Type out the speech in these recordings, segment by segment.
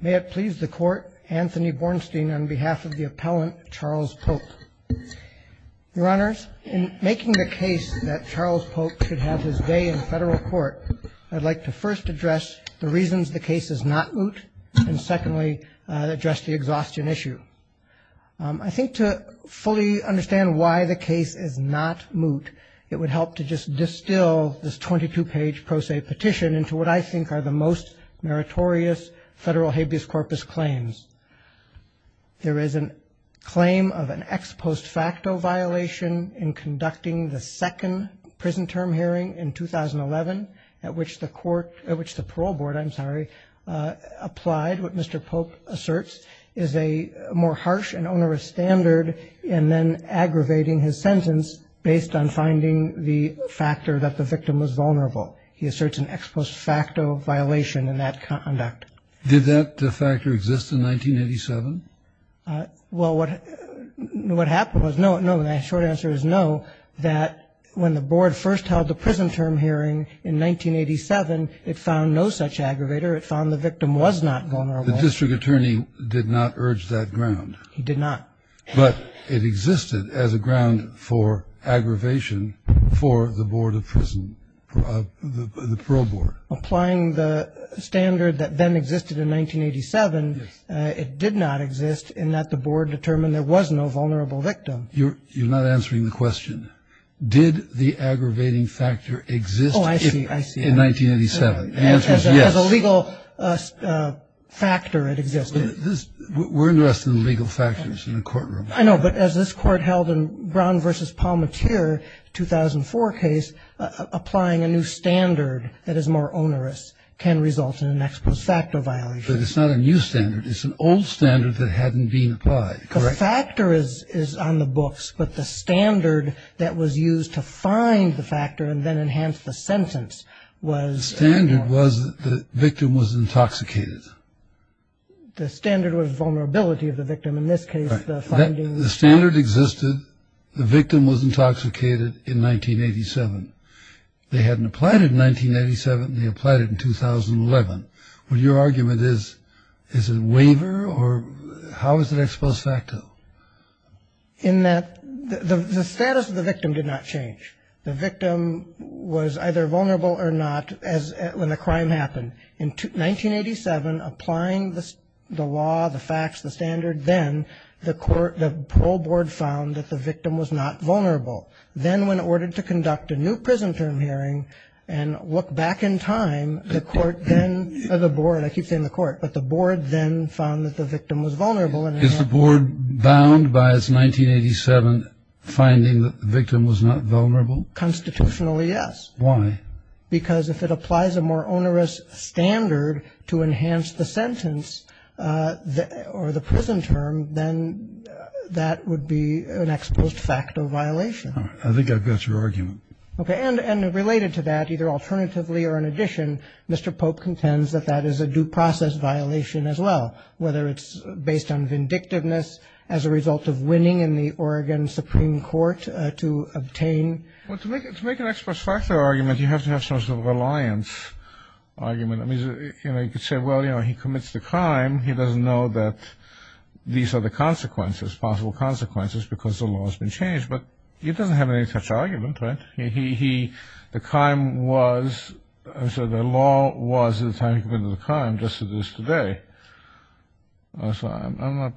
May it please the Court, Anthony Bornstein on behalf of the Appellant, Charles Pope. Your Honors, in making the case that Charles Pope should have his day in federal court, I'd like to first address the reasons the case is not moot, and secondly, address the exhaustion issue. I think to fully understand why the case is not moot, it would help to just distill this 22-page pro se petition into what I think are the most meritorious federal habeas corpus claims. There is a claim of an ex post facto violation in conducting the second prison term hearing in 2011, at which the parole board applied what Mr. Pope asserts is a more harsh and onerous standard, and then aggravating his sentence based on finding the factor that the victim was vulnerable. He asserts an ex post facto violation in that conduct. Did that factor exist in 1987? Well, what happened was no, no, and the short answer is no, that when the board first held the prison term hearing in 1987, it found no such aggravator. It found the victim was not vulnerable. The district attorney did not urge that ground. He did not. But it existed as a ground for aggravation for the board of prison, the parole board. Applying the standard that then existed in 1987, it did not exist in that the board determined there was no vulnerable victim. You're not answering the question. Did the aggravating factor exist in 1987? Oh, I see, I see. As a legal factor, it existed. We're interested in legal factors in the courtroom. I know, but as this court held in Brown v. Palmatier, 2004 case, applying a new standard that is more onerous can result in an ex post facto violation. But it's not a new standard. It's an old standard that hadn't been applied. Correct. The factor is on the books, but the standard that was used to find the factor and then enhance the sentence was... The standard was that the victim was intoxicated. The standard was vulnerability of the victim. In this case, the finding... Right. The standard existed. The victim was intoxicated in 1987. They hadn't applied it in 1987, and they applied it in 2011. What your argument is, is it waiver or how is it ex post facto? In that the status of the victim did not change. The victim was either vulnerable or not when the crime happened. In 1987, applying the law, the facts, the standard, then the parole board found that the victim was not vulnerable. Then when ordered to conduct a new prison term hearing and look back in time, the board then found that the victim was vulnerable. Is the board bound by its 1987 finding that the victim was not vulnerable? Constitutionally, yes. Why? Because if it applies a more onerous standard to enhance the sentence or the prison term, then that would be an ex post facto violation. I think I've got your argument. Okay. And related to that, either alternatively or in addition, Mr. Pope contends that that is a due process violation as well, whether it's based on vindictiveness as a result of winning in the Oregon Supreme Court to obtain... Well, to make an ex post facto argument, you have to have some sort of reliance argument. I mean, you could say, well, you know, he commits the crime. He doesn't know that these are the consequences, possible consequences, because the law has been changed. But he doesn't have any such argument, right? The crime was, so the law was at the time he committed the crime just as it is today. I'm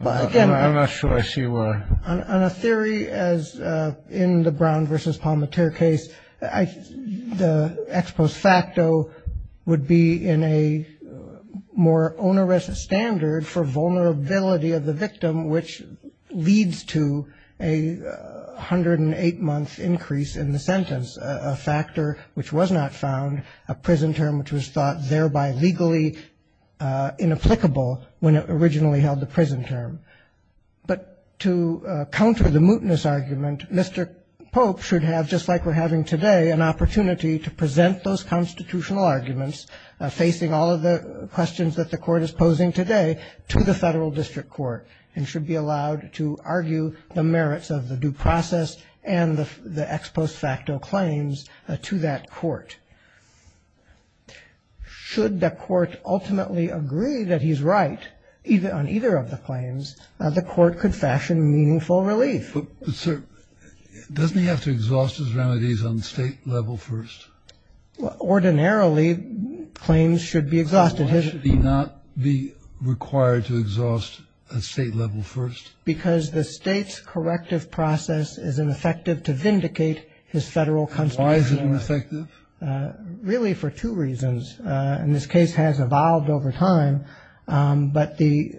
not sure I see where... On a theory as in the Brown v. Palmateer case, the ex post facto would be in a more onerous standard for vulnerability of the victim, which leads to a 108-month increase in the sentence, a factor which was not found, a prison term which was thought thereby legally inapplicable when it originally held the prison term. But to counter the mootness argument, Mr. Pope should have, just like we're having today, an opportunity to present those constitutional arguments, facing all of the questions that the court is posing today, to the federal district court and should be allowed to argue the merits of the due process and the ex post facto claims to that court. Should the court ultimately agree that he's right on either of the claims, the court could fashion meaningful relief. But sir, doesn't he have to exhaust his remedies on state level first? Ordinarily, claims should be exhausted. Why should he not be required to exhaust at state level first? Because the state's corrective process is ineffective to vindicate his federal constitutional... Why is it ineffective? Really for two reasons. And this case has evolved over time. But the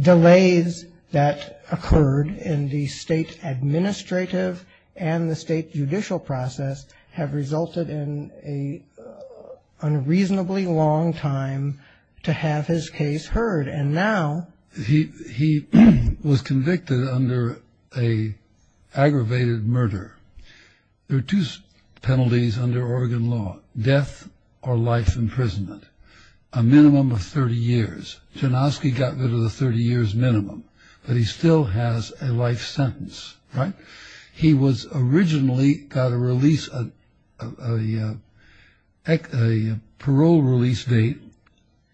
delays that occurred in the state administrative and the state judicial process have resulted in an unreasonably long time to have his case heard. And now... He was convicted under an aggravated murder. There are two penalties under Oregon law. Death or life imprisonment. A minimum of 30 years. Janowski got rid of the 30 years minimum. But he still has a life sentence. Right? He was originally got a release... A parole release date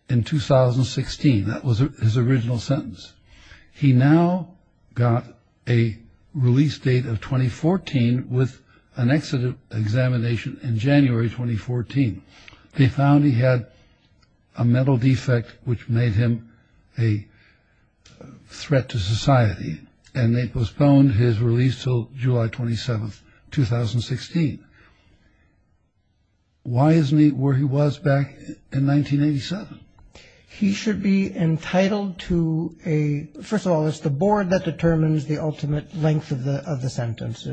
in 2016. That was his original sentence. He now got a release date of 2014 with an exit examination in January 2014. They found he had a mental defect which made him a threat to society. And they postponed his release until July 27, 2016. Why isn't he where he was back in 1987? He should be entitled to a... First of all, it's the board that determines the ultimate length of the sentence.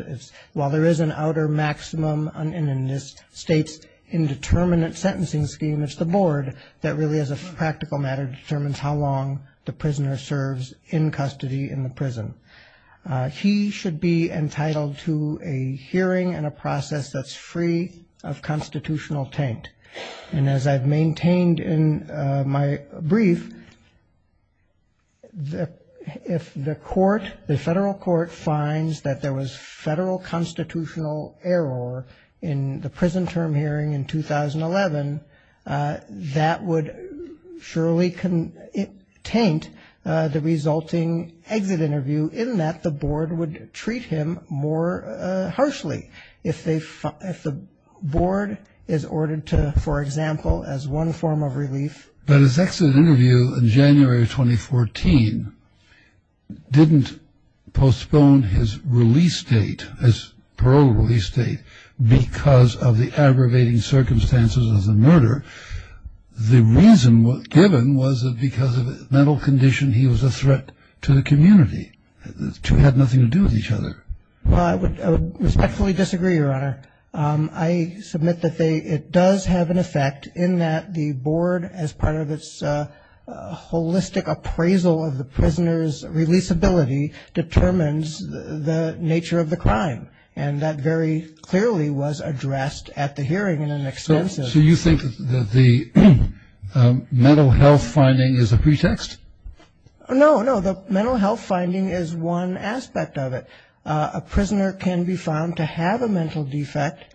While there is an outer maximum in this state's indeterminate sentencing scheme, it's the board that really, as a practical matter, determines how long the prisoner serves in custody in the prison. He should be entitled to a hearing and a process that's free of constitutional taint. And as I've maintained in my brief, if the court, the federal court finds that there was federal constitutional error in the prison term hearing in 2011, that would surely taint the resulting exit interview in that the board would treat him more harshly. If the board is ordered to, for example, as one form of relief... But his exit interview in January 2014 didn't postpone his release date, his parole release date, because of the aggravating circumstances of the murder. The reason given was that because of a mental condition, he was a threat to the community. The two had nothing to do with each other. Well, I would respectfully disagree, Your Honor. I submit that it does have an effect in that the board, as part of its holistic appraisal of the prisoner's releasability, determines the nature of the crime. And that very clearly was addressed at the hearing in an extensive... So you think that the mental health finding is a pretext? No, no, the mental health finding is one aspect of it. A prisoner can be found to have a mental defect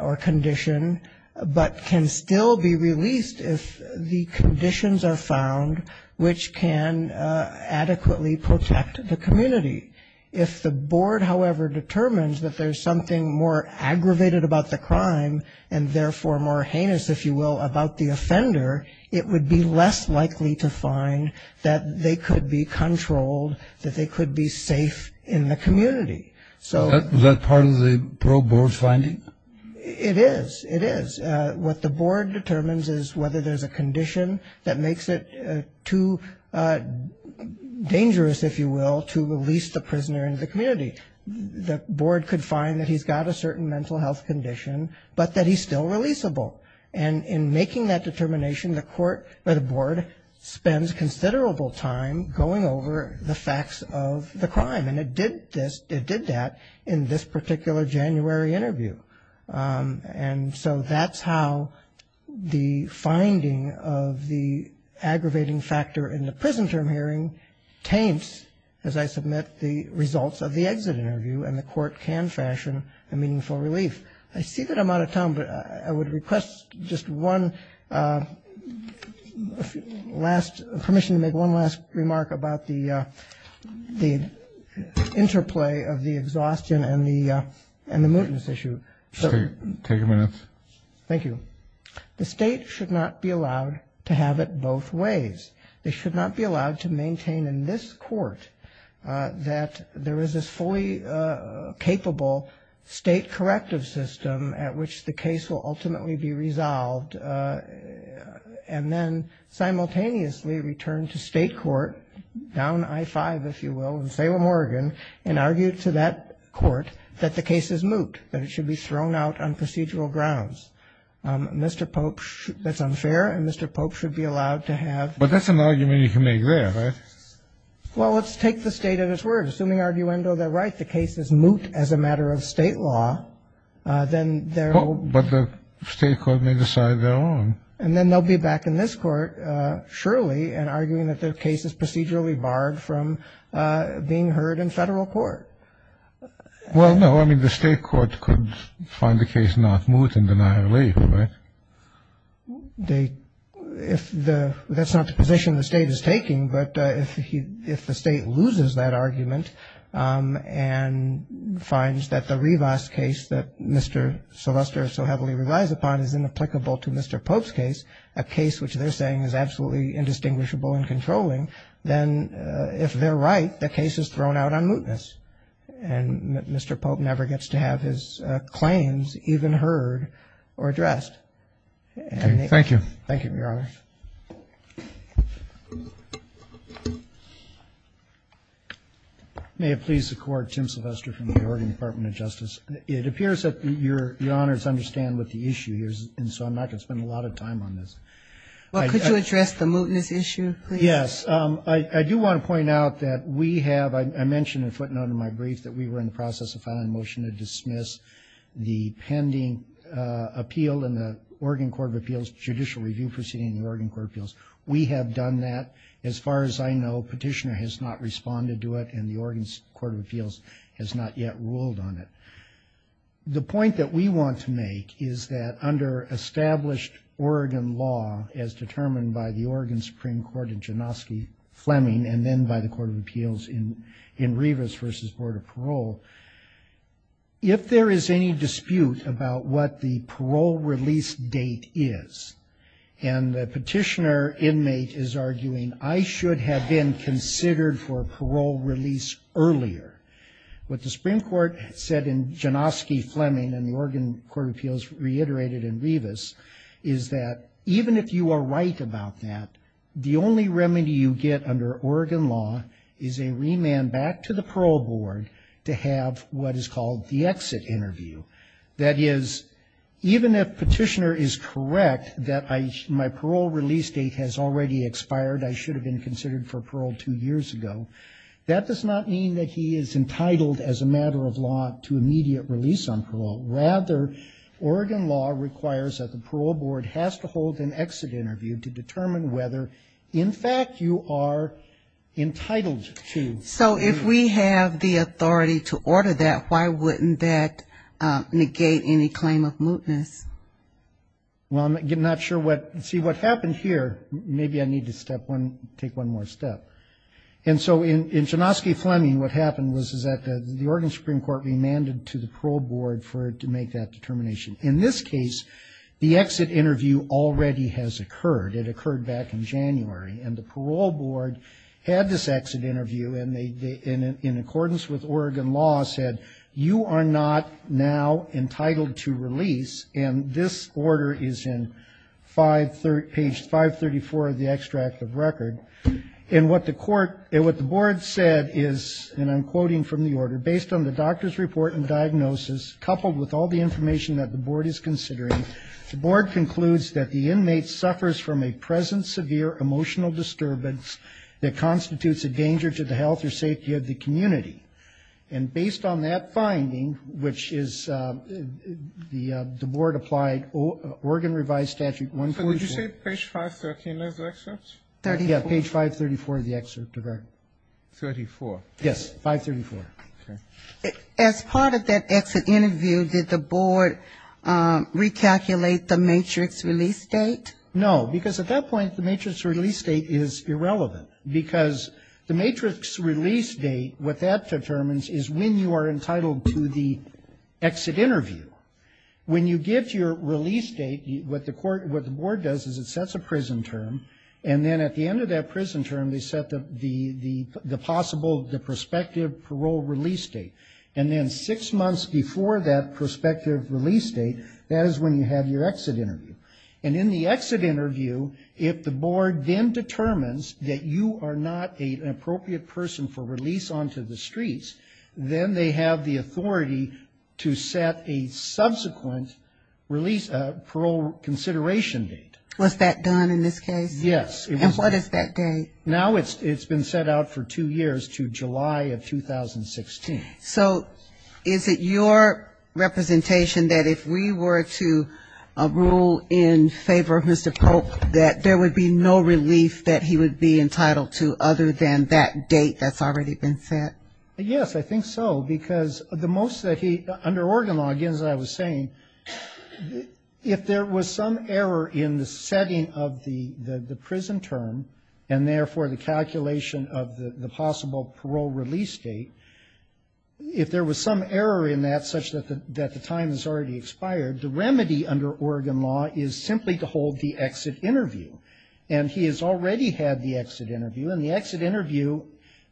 or condition, but can still be released if the conditions are found which can adequately protect the community. If the board, however, determines that there's something more aggravated about the crime, and therefore more heinous, if you will, about the offender, it would be less likely to find that they could be controlled, that they could be safe in the community. Was that part of the parole board's finding? It is. It is. What the board determines is whether there's a condition that makes it too dangerous, if you will, to release the prisoner into the community. The board could find that he's got a certain mental health condition, but that he's still releasable. And in making that determination, the board spends considerable time going over the facts of the crime. And it did that in this particular January interview. And so that's how the finding of the aggravating factor in the prison term hearing taints, as I submit the results of the exit interview, and the court can fashion a meaningful relief. I see that I'm out of time, but I would request just one last, permission to make one last remark about the interplay of the exhaustion and the mootness issue. Take a minute. Thank you. The state should not be allowed to have it both ways. They should not be allowed to maintain in this court that there is this fully capable state corrective system at which the case will ultimately be resolved, and then simultaneously return to state court, down I-5, if you will, in Salem, Oregon, and argue to that court that the case is moot, that it should be thrown out on procedural grounds. Mr. Pope, that's unfair, and Mr. Pope should be allowed to have. But that's an argument you can make there, right? Well, let's take the state at its word. Assuming, arguendo, they're right, the case is moot as a matter of state law, then there will be. But the state court may decide they're wrong. And then they'll be back in this court, surely, and arguing that the case is procedurally barred from being heard in federal court. Well, no. I mean, the state court could find the case not moot and deny relief, right? That's not the position the state is taking, but if the state loses that argument and finds that the Rivas case that Mr. Sylvester so heavily relies upon is inapplicable to Mr. Pope's case, a case which they're saying is absolutely indistinguishable and controlling, then if they're right, the case is thrown out on mootness. And Mr. Pope never gets to have his claims even heard or addressed. Thank you, Your Honor. May it please the Court, Tim Sylvester from the Oregon Department of Justice. It appears that Your Honors understand what the issue is, and so I'm not going to spend a lot of time on this. Well, could you address the mootness issue, please? Yes. I do want to point out that we have, I mentioned in a footnote in my brief, that we were in the process of filing a motion to dismiss the pending appeal in the Oregon Court of Appeals judicial review proceeding in the Oregon Court of Appeals. We have done that. As far as I know, Petitioner has not responded to it, and the Oregon Court of Appeals has not yet ruled on it. The point that we want to make is that under established Oregon law, as determined by the Oregon Supreme Court in Janoski-Fleming, and then by the Court of Appeals in Rivas v. Board of Parole, if there is any dispute about what the parole release date is, and the Petitioner inmate is arguing, I should have been considered for parole release earlier, what the Supreme Court said in Janoski-Fleming and the Oregon Court of Appeals reiterated in Rivas is that even if you are right about that, the only remedy you get under Oregon law is a remand back to the parole board to have what is called the exit interview. That is, even if Petitioner is correct that my parole release date has already expired, I should have been considered for parole two years ago, that does not mean that he is entitled as a matter of law to immediate release on parole. Rather, Oregon law requires that the parole board has to hold an exit interview to determine whether, in fact, you are entitled to. So if we have the authority to order that, why wouldn't that negate any claim of mootness? Well, I'm not sure what, see, what happened here, maybe I need to take one more step. And so in Janoski-Fleming, what happened was that the Oregon Supreme Court remanded to the parole board for it to make that determination. In this case, the exit interview already has occurred. It occurred back in January, and the parole board had this exit interview, and in accordance with Oregon law said, you are not now entitled to release, and this order is in page 534 of the extract of record. And what the board said is, and I'm quoting from the order, based on the doctor's report and diagnosis, coupled with all the information that the board is considering, the board concludes that the inmate suffers from a present severe emotional disturbance that constitutes a danger to the health or safety of the community. And based on that finding, which is the board applied Oregon revised statute 144. So would you say page 513 of the excerpt? Yeah, page 534 of the excerpt of our. 34. Yes, 534. As part of that exit interview, did the board recalculate the matrix release date? No, because at that point, the matrix release date is irrelevant. Because the matrix release date, what that determines is when you are entitled to the exit interview. When you give your release date, what the board does is it sets a prison term, and then at the end of that prison term, they set the possible, the prospective parole release date. And then six months before that prospective release date, that is when you have your exit interview. And in the exit interview, if the board then determines that you are not an appropriate person for release onto the streets, then they have the authority to set a subsequent parole consideration date. Was that done in this case? Yes. And what is that date? Now it's been set out for two years to July of 2016. So is it your representation that if we were to rule in favor of Mr. Polk, that there would be no relief that he would be entitled to other than that date that's already been set? Yes, I think so. Because the most that he, under Oregon law, again, as I was saying, if there was some error in the setting of the prison term, and therefore the calculation of the possible parole release date, if there was some error in that such that the time has already expired, the remedy under Oregon law is simply to hold the exit interview. And he has already had the exit interview. In the exit interview,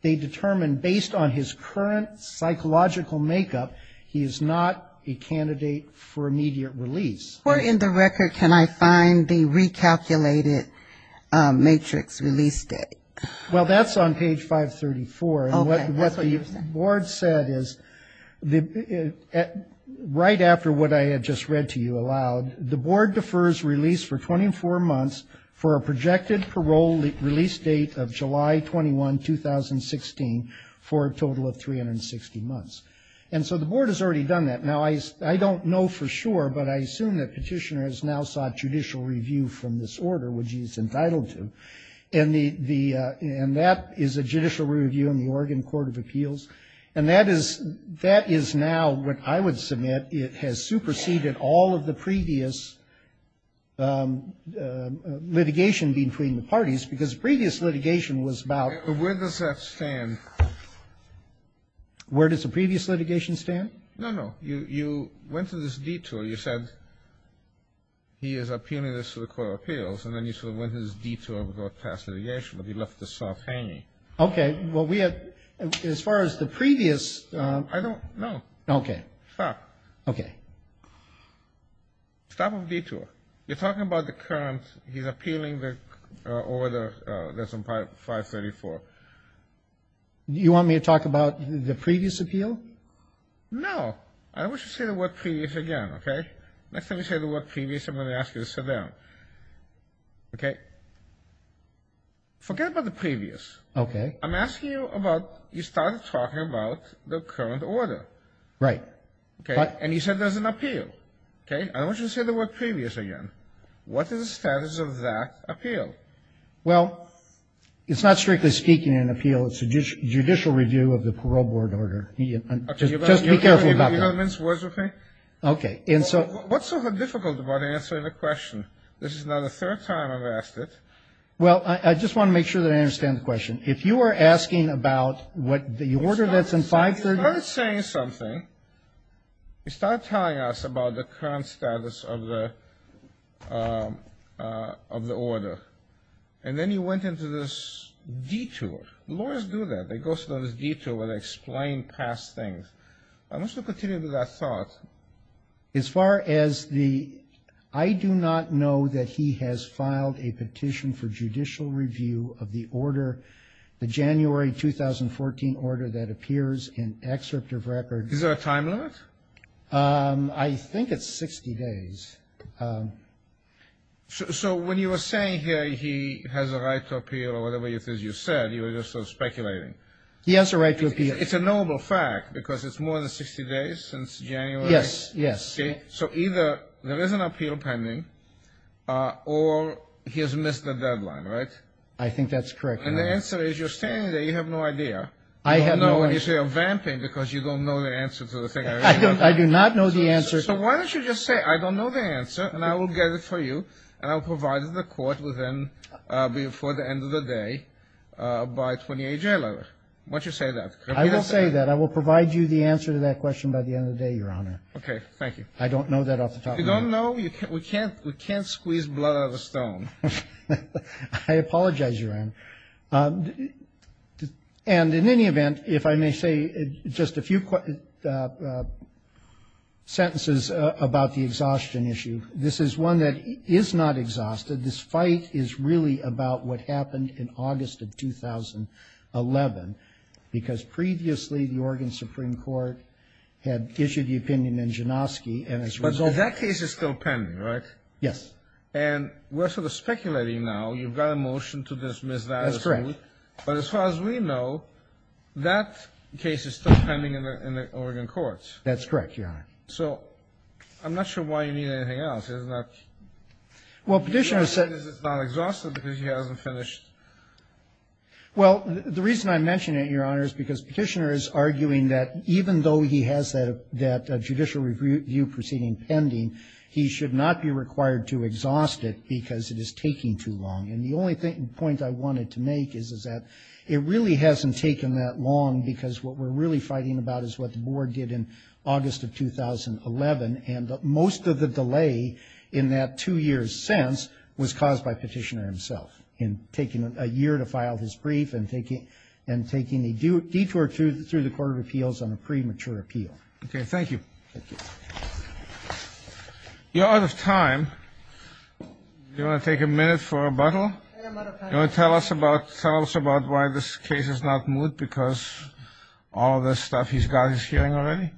they determine, based on his current psychological makeup, he is not a candidate for immediate release. Where in the record can I find the recalculated matrix release date? Well, that's on page 534. And what the board said is, right after what I had just read to you aloud, the board defers release for 24 months for a projected parole release date of July 21, 2016, for a total of 360 months. And so the board has already done that. Now, I don't know for sure, but I assume that Petitioner has now sought judicial review from this order, which he is entitled to. And that is a judicial review in the Oregon Court of Appeals. And that is now, what I would submit, that it has superseded all of the previous litigation between the parties, because the previous litigation was about ---- Where does that stand? Where does the previous litigation stand? No, no. You went to this detour. You said he is a punitive to the Court of Appeals, and then you sort of went to this detour to go past litigation, but you left the soft hanging. Okay. Well, we have, as far as the previous ---- I don't know. Okay. Stop. Okay. Stop of detour. You're talking about the current. He's appealing the order that's on 534. You want me to talk about the previous appeal? No. I want you to say the word previous again, okay? Next time you say the word previous, I'm going to ask you to sit down. Okay? Forget about the previous. Okay. I'm asking you about, you started talking about the current order. Right. Okay. And you said there's an appeal. Okay. I want you to say the word previous again. What is the status of that appeal? Well, it's not strictly speaking an appeal. It's a judicial review of the parole board order. Just be careful about that. Okay. And so ---- What's so difficult about answering the question? This is now the third time I've asked it. If you are asking about what the order that's on 534 ---- You started saying something. You started telling us about the current status of the order. And then you went into this detour. Lawyers do that. They go through this detour where they explain past things. I want you to continue with that thought. As far as the ---- I do not know that he has filed a petition for judicial review of the order, the January 2014 order that appears in excerpt of record. Is there a time limit? I think it's 60 days. So when you were saying here he has a right to appeal or whatever it is you said, you were just sort of speculating. He has a right to appeal. It's a knowable fact because it's more than 60 days since January. Yes. Yes. So either there is an appeal pending or he has missed the deadline, right? I think that's correct. And the answer is you're standing there, you have no idea. I have no idea. You say you're vamping because you don't know the answer to the thing. I do not know the answer. So why don't you just say I don't know the answer and I will get it for you and I will provide it to the court before the end of the day by 28 January. Why don't you say that? I will say that. I will provide you the answer to that question by the end of the day, Your Honor. Okay. Thank you. I don't know that off the top of my head. You don't know? We can't squeeze blood out of a stone. I apologize, Your Honor. And in any event, if I may say just a few sentences about the exhaustion issue, this is one that is not exhausted. This fight is really about what happened in August of 2011 because previously the Oregon Supreme Court had issued the opinion in Janoski and as a result of that But that case is still pending, right? Yes. And we're sort of speculating now. You've got a motion to dismiss that. That's correct. But as far as we know, that case is still pending in the Oregon courts. That's correct, Your Honor. So I'm not sure why you need anything else. Isn't that? Well, Petitioner said it's not exhausted because he hasn't finished. Well, the reason I mention it, Your Honor, is because Petitioner is arguing that even though he has that judicial review proceeding pending, he should not be required to exhaust it because it is taking too long. And the only point I wanted to make is that it really hasn't taken that long because what we're really fighting about is what the board did in August of 2011. And most of the delay in that two years since was caused by Petitioner himself in taking a year to file his brief and taking a detour through the Court of Appeals on a premature appeal. Okay. Thank you. Thank you. You're out of time. Do you want to take a minute for rebuttal? I am out of time. Do you want to tell us about why this case is not moved because all of this stuff he's got he's hearing already?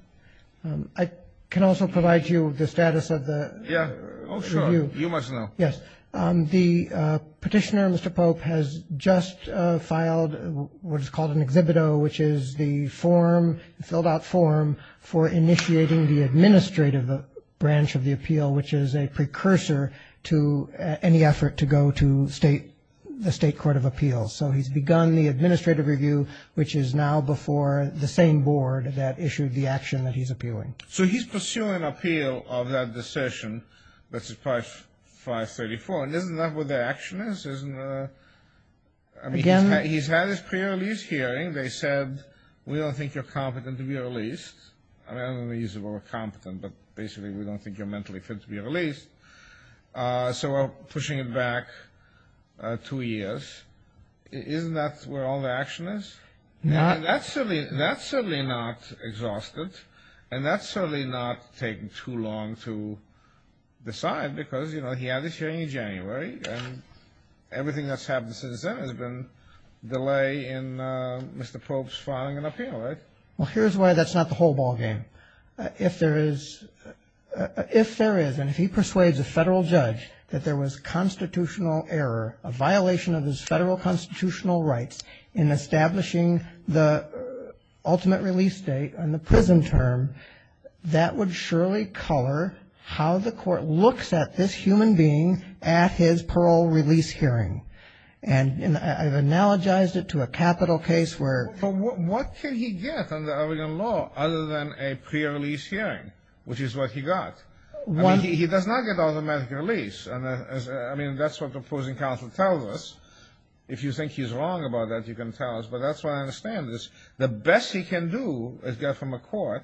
I can also provide you the status of the review. Yeah. Oh, sure. You must know. Yes. The Petitioner, Mr. Pope, has just filed what is called an exhibito, which is the form, the filled-out form, for initiating the administrative branch of the appeal, which is a precursor to any effort to go to the State Court of Appeals. So he's begun the administrative review, which is now before the same board that issued the action that he's appealing. So he's pursuing an appeal of that decision, that's 534. And isn't that what the action is? I mean, he's had his pre-release hearing. They said, we don't think you're competent to be released. I mean, I don't want to use the word competent, but basically we don't think you're mentally fit to be released. So we're pushing it back two years. Isn't that where all the action is? No. That's certainly not exhaustive, and that's certainly not taking too long to decide because, you know, he had his hearing in January, and everything that's happened since then has been delay in Mr. Pope's filing an appeal, right? Well, here's why that's not the whole ballgame. If there is, and if he persuades a federal judge that there was constitutional error, a violation of his federal constitutional rights in establishing the ultimate release date on the prison term, that would surely color how the court looks at this human being at his parole release hearing. And I've analogized it to a capital case where — But what can he get under Oregon law other than a pre-release hearing, which is what he got? I mean, he does not get automatic release. I mean, that's what the opposing counsel tells us. If you think he's wrong about that, you can tell us. But that's why I understand this. The best he can do is get from a court,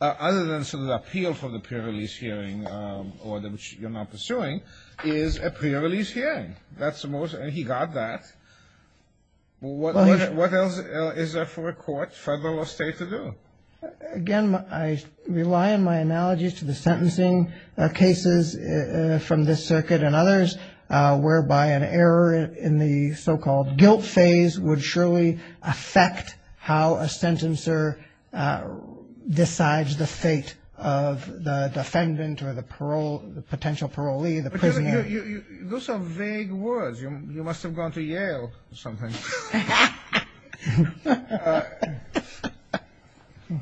other than sort of appeal for the pre-release hearing, or which you're not pursuing, is a pre-release hearing. That's the most — and he got that. What else is there for a court, federal or state, to do? Again, I rely on my analogies to the sentencing cases from this circuit and others, whereby an error in the so-called guilt phase would surely affect how a sentencer decides the fate of the defendant or the potential parolee, the prisoner. Those are vague words. You must have gone to Yale or something.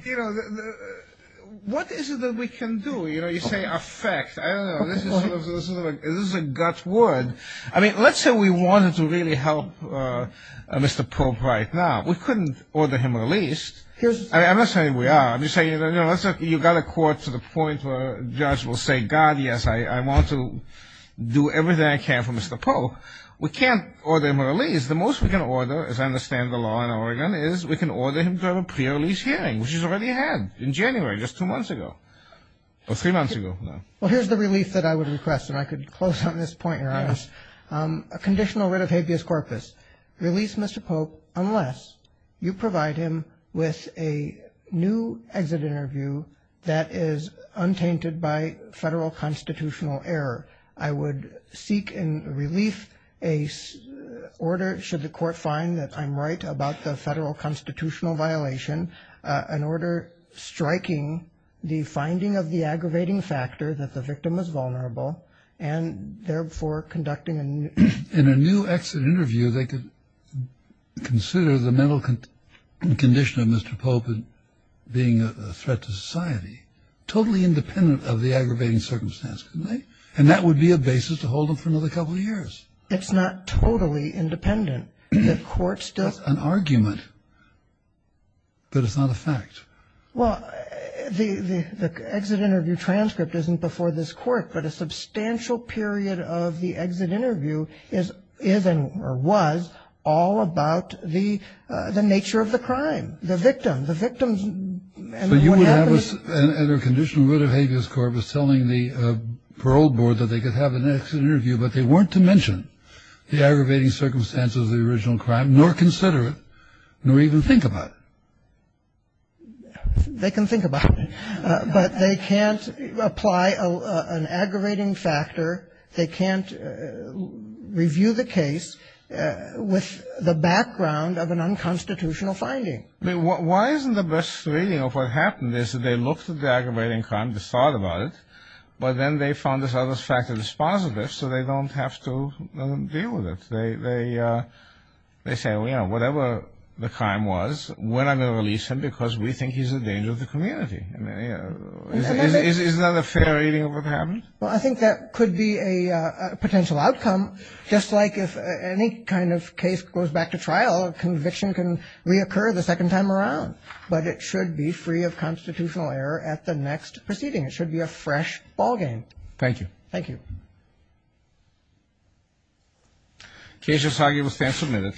You know, what is it that we can do? You know, you say affect. I don't know. This is a gut word. I mean, let's say we wanted to really help Mr. Pope right now. We couldn't order him released. I'm not saying we are. I'm just saying, you know, you've got a court to the point where a judge will say, God, yes, I want to do everything I can for Mr. Pope. We can't order him released. The most we can order, as I understand the law in Oregon, is we can order him to have a pre-release hearing, which he's already had in January, just two months ago. Well, three months ago. Well, here's the relief that I would request, and I could close on this point, Your Honor. A conditional writ of habeas corpus. Release Mr. Pope unless you provide him with a new exit interview that is untainted by federal constitutional error. I would seek in relief an order, should the court find that I'm right about the federal constitutional violation, an order striking the finding of the aggravating factor that the victim is vulnerable and therefore conducting a new exit interview. In a new exit interview, they could consider the mental condition of Mr. Pope being a threat to society, totally independent of the aggravating circumstance, couldn't they? And that would be a basis to hold him for another couple of years. It's not totally independent. That's an argument, but it's not a fact. Well, the exit interview transcript isn't before this court, but a substantial period of the exit interview is and was all about the nature of the crime, the victim. The victim's and what happens. So you would have a conditional writ of habeas corpus telling the parole board that they could have an exit interview, but they weren't to mention the aggravating circumstances of the original crime, nor consider it, nor even think about it. They can think about it, but they can't apply an aggravating factor. They can't review the case with the background of an unconstitutional finding. Why isn't the best reading of what happened is that they looked at the aggravating crime, just thought about it, but then they found this other factor that's positive, so they don't have to deal with it. They say, you know, whatever the crime was, we're not going to release him because we think he's a danger to the community. Isn't that a fair reading of what happened? Well, I think that could be a potential outcome, just like if any kind of case goes back to trial, a conviction can reoccur the second time around. But it should be free of constitutional error at the next proceeding. It should be a fresh ballgame. Thank you. Thank you. Case is now given stand submitted.